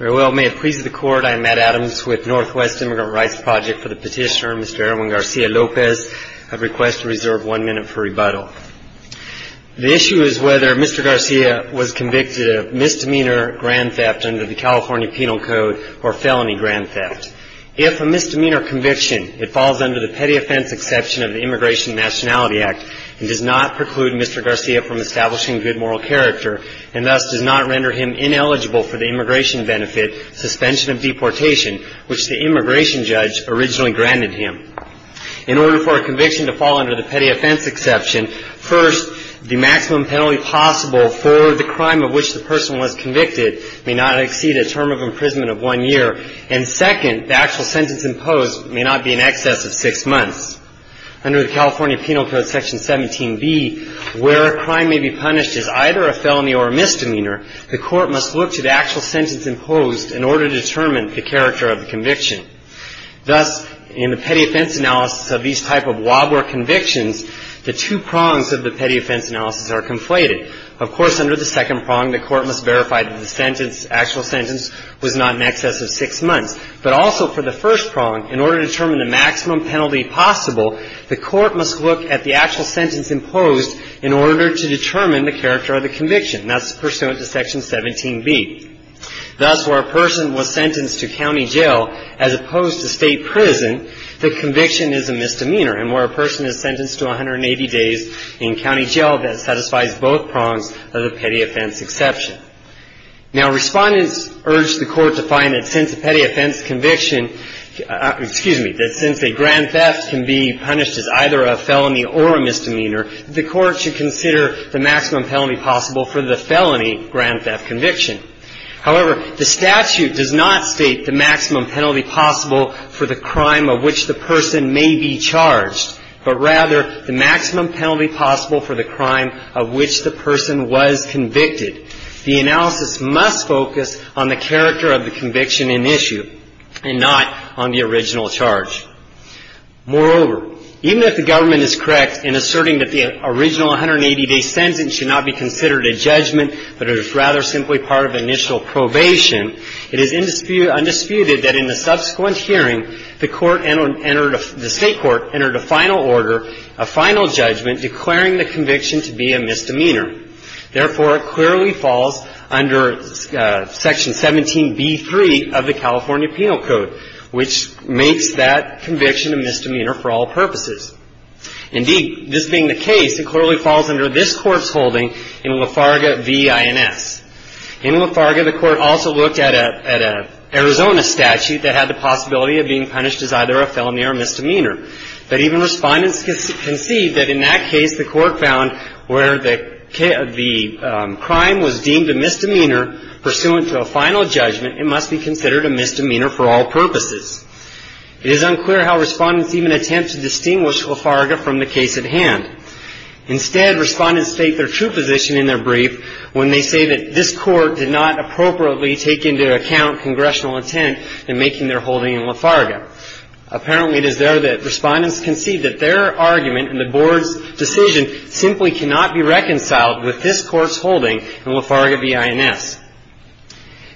May it please the Court, I am Matt Adams with Northwest Immigrant Rights Project for the petitioner Mr. Erwin Garcia-Lopez. I request to reserve one minute for rebuttal. The issue is whether Mr. Garcia was convicted of misdemeanor grand theft under the California Penal Code or felony grand theft. If a misdemeanor conviction, it falls under the petty offense exception of the Immigration and Nationality Act and does not preclude Mr. Garcia from establishing good moral character and thus does not render him ineligible for the immigration benefit, suspension of deportation, which the immigration judge originally granted him. In order for a conviction to fall under the petty offense exception, first, the maximum penalty possible for the crime of which the person was convicted may not exceed a term of imprisonment of one year. And second, the actual sentence imposed may not be in excess of six months. Under the California Penal Code Section 17B, where a crime may be punished as either a felony or a misdemeanor, the court must look to the actual sentence imposed in order to determine the character of the conviction. Thus, in the petty offense analysis of these type of WABOR convictions, the two prongs of the petty offense analysis are conflated. Of course, under the second prong, the court must verify that the sentence, actual sentence, was not in excess of six months. But also for the first prong, in order to determine the maximum penalty possible, the court must look at the actual sentence imposed in order to determine the character of the conviction. That's pursuant to Section 17B. Thus, where a person was sentenced to county jail as opposed to state prison, the conviction is a misdemeanor. And where a person is sentenced to 180 days in county jail, that satisfies both prongs of the petty offense exception. Now, respondents urged the court to find that since a petty offense conviction, excuse me, that since a grand theft can be punished as either a felony or a misdemeanor, the court should consider the maximum penalty possible for the felony grand theft conviction. However, the statute does not state the maximum penalty possible for the crime of which the person may be charged, but rather the maximum penalty possible for the crime of which the person was convicted. The analysis must focus on the character of the conviction in issue and not on the original charge. Moreover, even if the government is correct in asserting that the original 180-day sentence should not be considered a judgment, but is rather simply part of initial probation, it is undisputed that in the subsequent hearing, the state court entered a final order, a final judgment, declaring the conviction to be a misdemeanor. Therefore, it clearly falls under Section 17b-3 of the California Penal Code, which makes that conviction a misdemeanor for all purposes. Indeed, this being the case, it clearly falls under this court's holding in Lafarga v. INS. In Lafarga, the court also looked at an Arizona statute that had the possibility of being punished as either a felony or a misdemeanor. But even Respondents concede that in that case, the court found where the crime was deemed a misdemeanor pursuant to a final judgment, it must be considered a misdemeanor for all purposes. It is unclear how Respondents even attempt to distinguish Lafarga from the case at hand. Instead, Respondents state their true position in their brief when they say that this court did not appropriately take into account congressional intent in making their holding in Lafarga. Apparently, it is there that Respondents concede that their argument in the board's decision simply cannot be reconciled with this court's holding in Lafarga v. INS.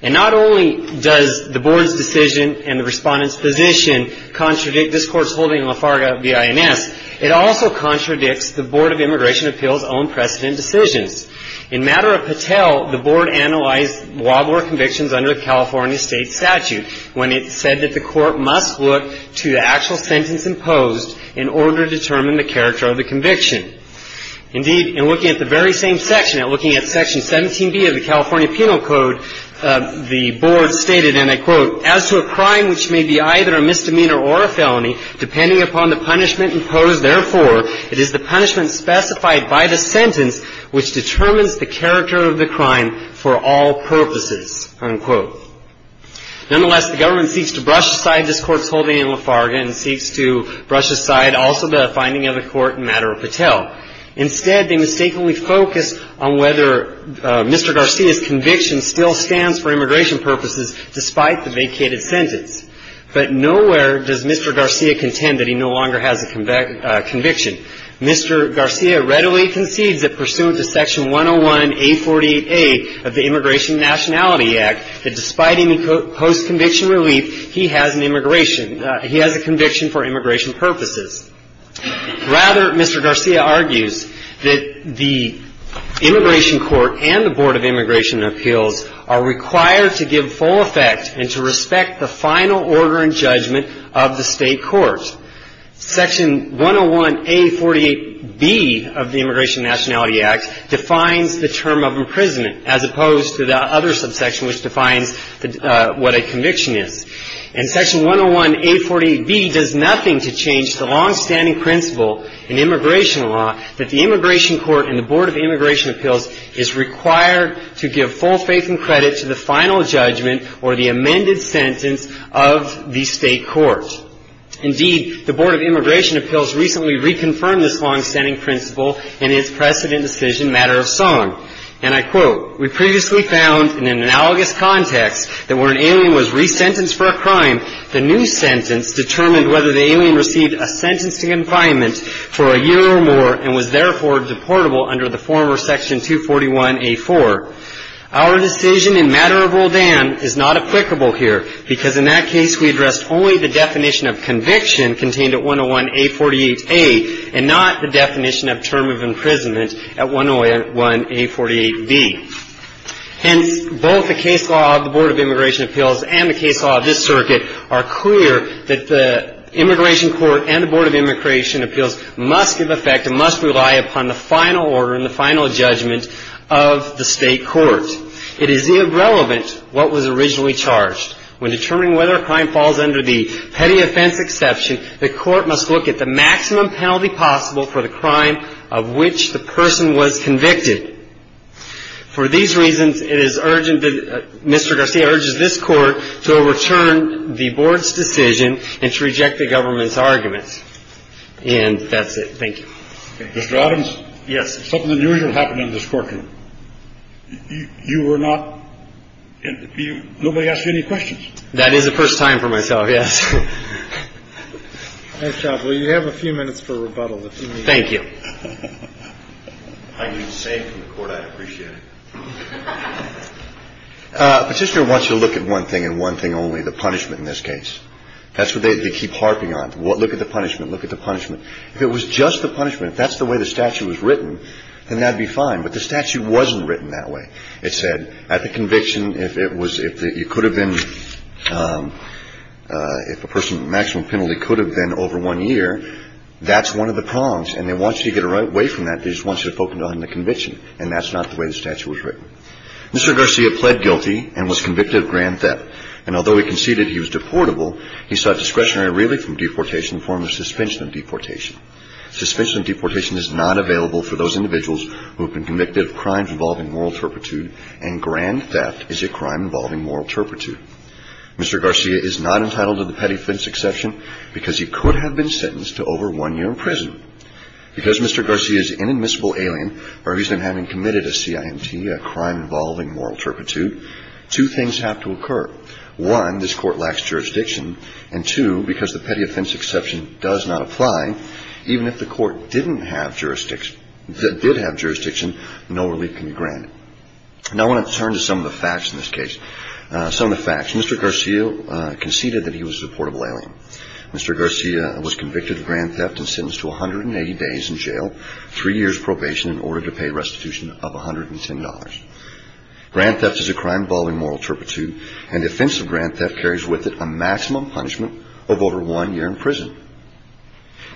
And not only does the board's decision and the Respondent's position contradict this court's holding in Lafarga v. INS, it also contradicts the Board of Immigration Appeals' own precedent decisions. In matter of Patel, the board analyzed Wadler convictions under the California State Statute when it said that the court must look to the actual sentence imposed in order to determine the character of the conviction. Indeed, in looking at the very same section, in looking at Section 17b of the California Penal Code, the board stated, and I quote, As to a crime which may be either a misdemeanor or a felony, depending upon the punishment imposed, therefore, it is the punishment specified by the sentence which determines the character of the crime for all purposes, unquote. Nonetheless, the government seeks to brush aside this court's holding in Lafarga and seeks to brush aside also the finding of the court in matter of Patel. Instead, they mistakenly focus on whether Mr. Garcia's conviction still stands for immigration purposes despite the vacated sentence. But nowhere does Mr. Garcia contend that he no longer has a conviction. Mr. Garcia readily concedes that pursuant to Section 101A48A of the Immigration Nationality Act, that despite him in post-conviction relief, he has an immigration, he has a conviction for immigration purposes. Rather, Mr. Garcia argues that the immigration court and the Board of Immigration Appeals are required to give full effect and to respect the final order and judgment of the state court. Section 101A48B of the Immigration Nationality Act defines the term of imprisonment, as opposed to the other subsection which defines what a conviction is. And Section 101A48B does nothing to change the longstanding principle in immigration law that the immigration court and the Board of Immigration Appeals is required to give full faith and credit to the final judgment or the amended sentence of the state court. Indeed, the Board of Immigration Appeals recently reconfirmed this longstanding principle in its precedent decision matter of song. And I quote, We previously found in an analogous context that when an alien was resentenced for a crime, the new sentence determined whether the alien received a sentencing confinement for a year or more and was therefore deportable under the former Section 241A4. Our decision in matter of Rodin is not applicable here, because in that case we addressed only the definition of conviction contained at 101A48A and not the definition of term of imprisonment at 101A48B. Hence, both the case law of the Board of Immigration Appeals and the case law of this circuit are clear that the immigration court and the Board of Immigration Appeals must give effect and must rely upon the final order and the final judgment of the state court. It is irrelevant what was originally charged. When determining whether a crime falls under the petty offense exception, the court must look at the maximum penalty possible for the crime of which the person was convicted. For these reasons, it is urgent that Mr. Garcia urges this court to overturn the Board's decision and to reject the government's arguments. And that's it. Mr. Adams? Yes. Something unusual happened in this courtroom. You were not – nobody asked you any questions? That is the first time for myself, yes. Nice job. Well, you have a few minutes for rebuttal if you need. Thank you. I can say from the court I appreciate it. Petitioner wants you to look at one thing and one thing only, the punishment in this case. That's what they keep harping on. Look at the punishment. Look at the punishment. If it was just the punishment, if that's the way the statute was written, then that would be fine. But the statute wasn't written that way. It said at the conviction, if it was – if you could have been – if a person with maximum penalty could have been over one year, that's one of the prongs. And they want you to get away from that. They just want you to focus on the conviction. And that's not the way the statute was written. Mr. Garcia pled guilty and was convicted of grand theft. And although he conceded he was deportable, he sought discretionary relief from deportation in the form of suspension of deportation. Suspension of deportation is not available for those individuals who have been convicted of crimes involving moral turpitude, and grand theft is a crime involving moral turpitude. Mr. Garcia is not entitled to the petty fence exception because he could have been sentenced to over one year in prison. Because Mr. Garcia is an inadmissible alien, or he's been having committed a CIMT, a crime involving moral turpitude, two things have to occur. One, this court lacks jurisdiction. And two, because the petty offense exception does not apply, even if the court did have jurisdiction, no relief can be granted. Now I want to turn to some of the facts in this case. Some of the facts. Mr. Garcia conceded that he was a deportable alien. Mr. Garcia was convicted of grand theft and sentenced to 180 days in jail, three years probation in order to pay restitution of $110. Grand theft is a crime involving moral turpitude, and the offense of grand theft carries with it a maximum punishment of over one year in prison.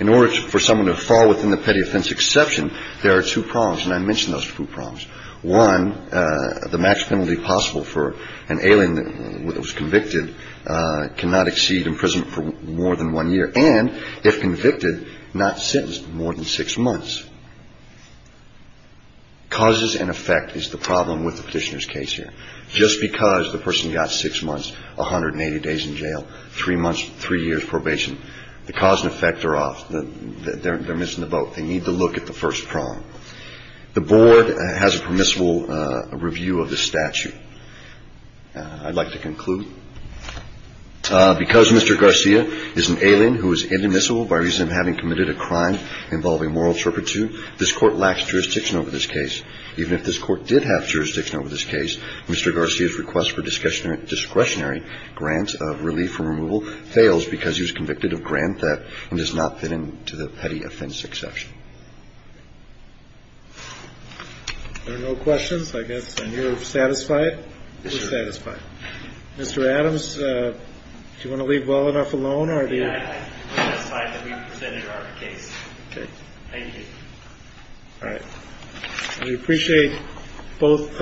In order for someone to fall within the petty offense exception, there are two problems, and I mentioned those two problems. One, the max penalty possible for an alien that was convicted cannot exceed imprisonment for more than one year, and if convicted, not sentenced for more than six months. Causes and effect is the problem with the petitioner's case here. Just because the person got six months, 180 days in jail, three months, three years probation, the cause and effect are off. They're missing the boat. They need to look at the first prong. The board has a permissible review of the statute. I'd like to conclude. Because Mr. Garcia is an alien who is inadmissible by reason of having committed a crime involving moral turpitude, this court lacks jurisdiction over this case. Even if this court did have jurisdiction over this case, Mr. Garcia's request for discretionary grant of relief from removal fails because he was convicted of grand theft and does not fit into the petty offense exception. There are no questions, I guess, and you're satisfied? We're satisfied. Mr. Adams, do you want to leave well enough alone? We're satisfied that we presented our case. Thank you. All right. We appreciate both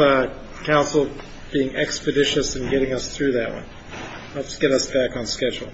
counsel being expeditious in getting us through that one. Let's get us back on schedule.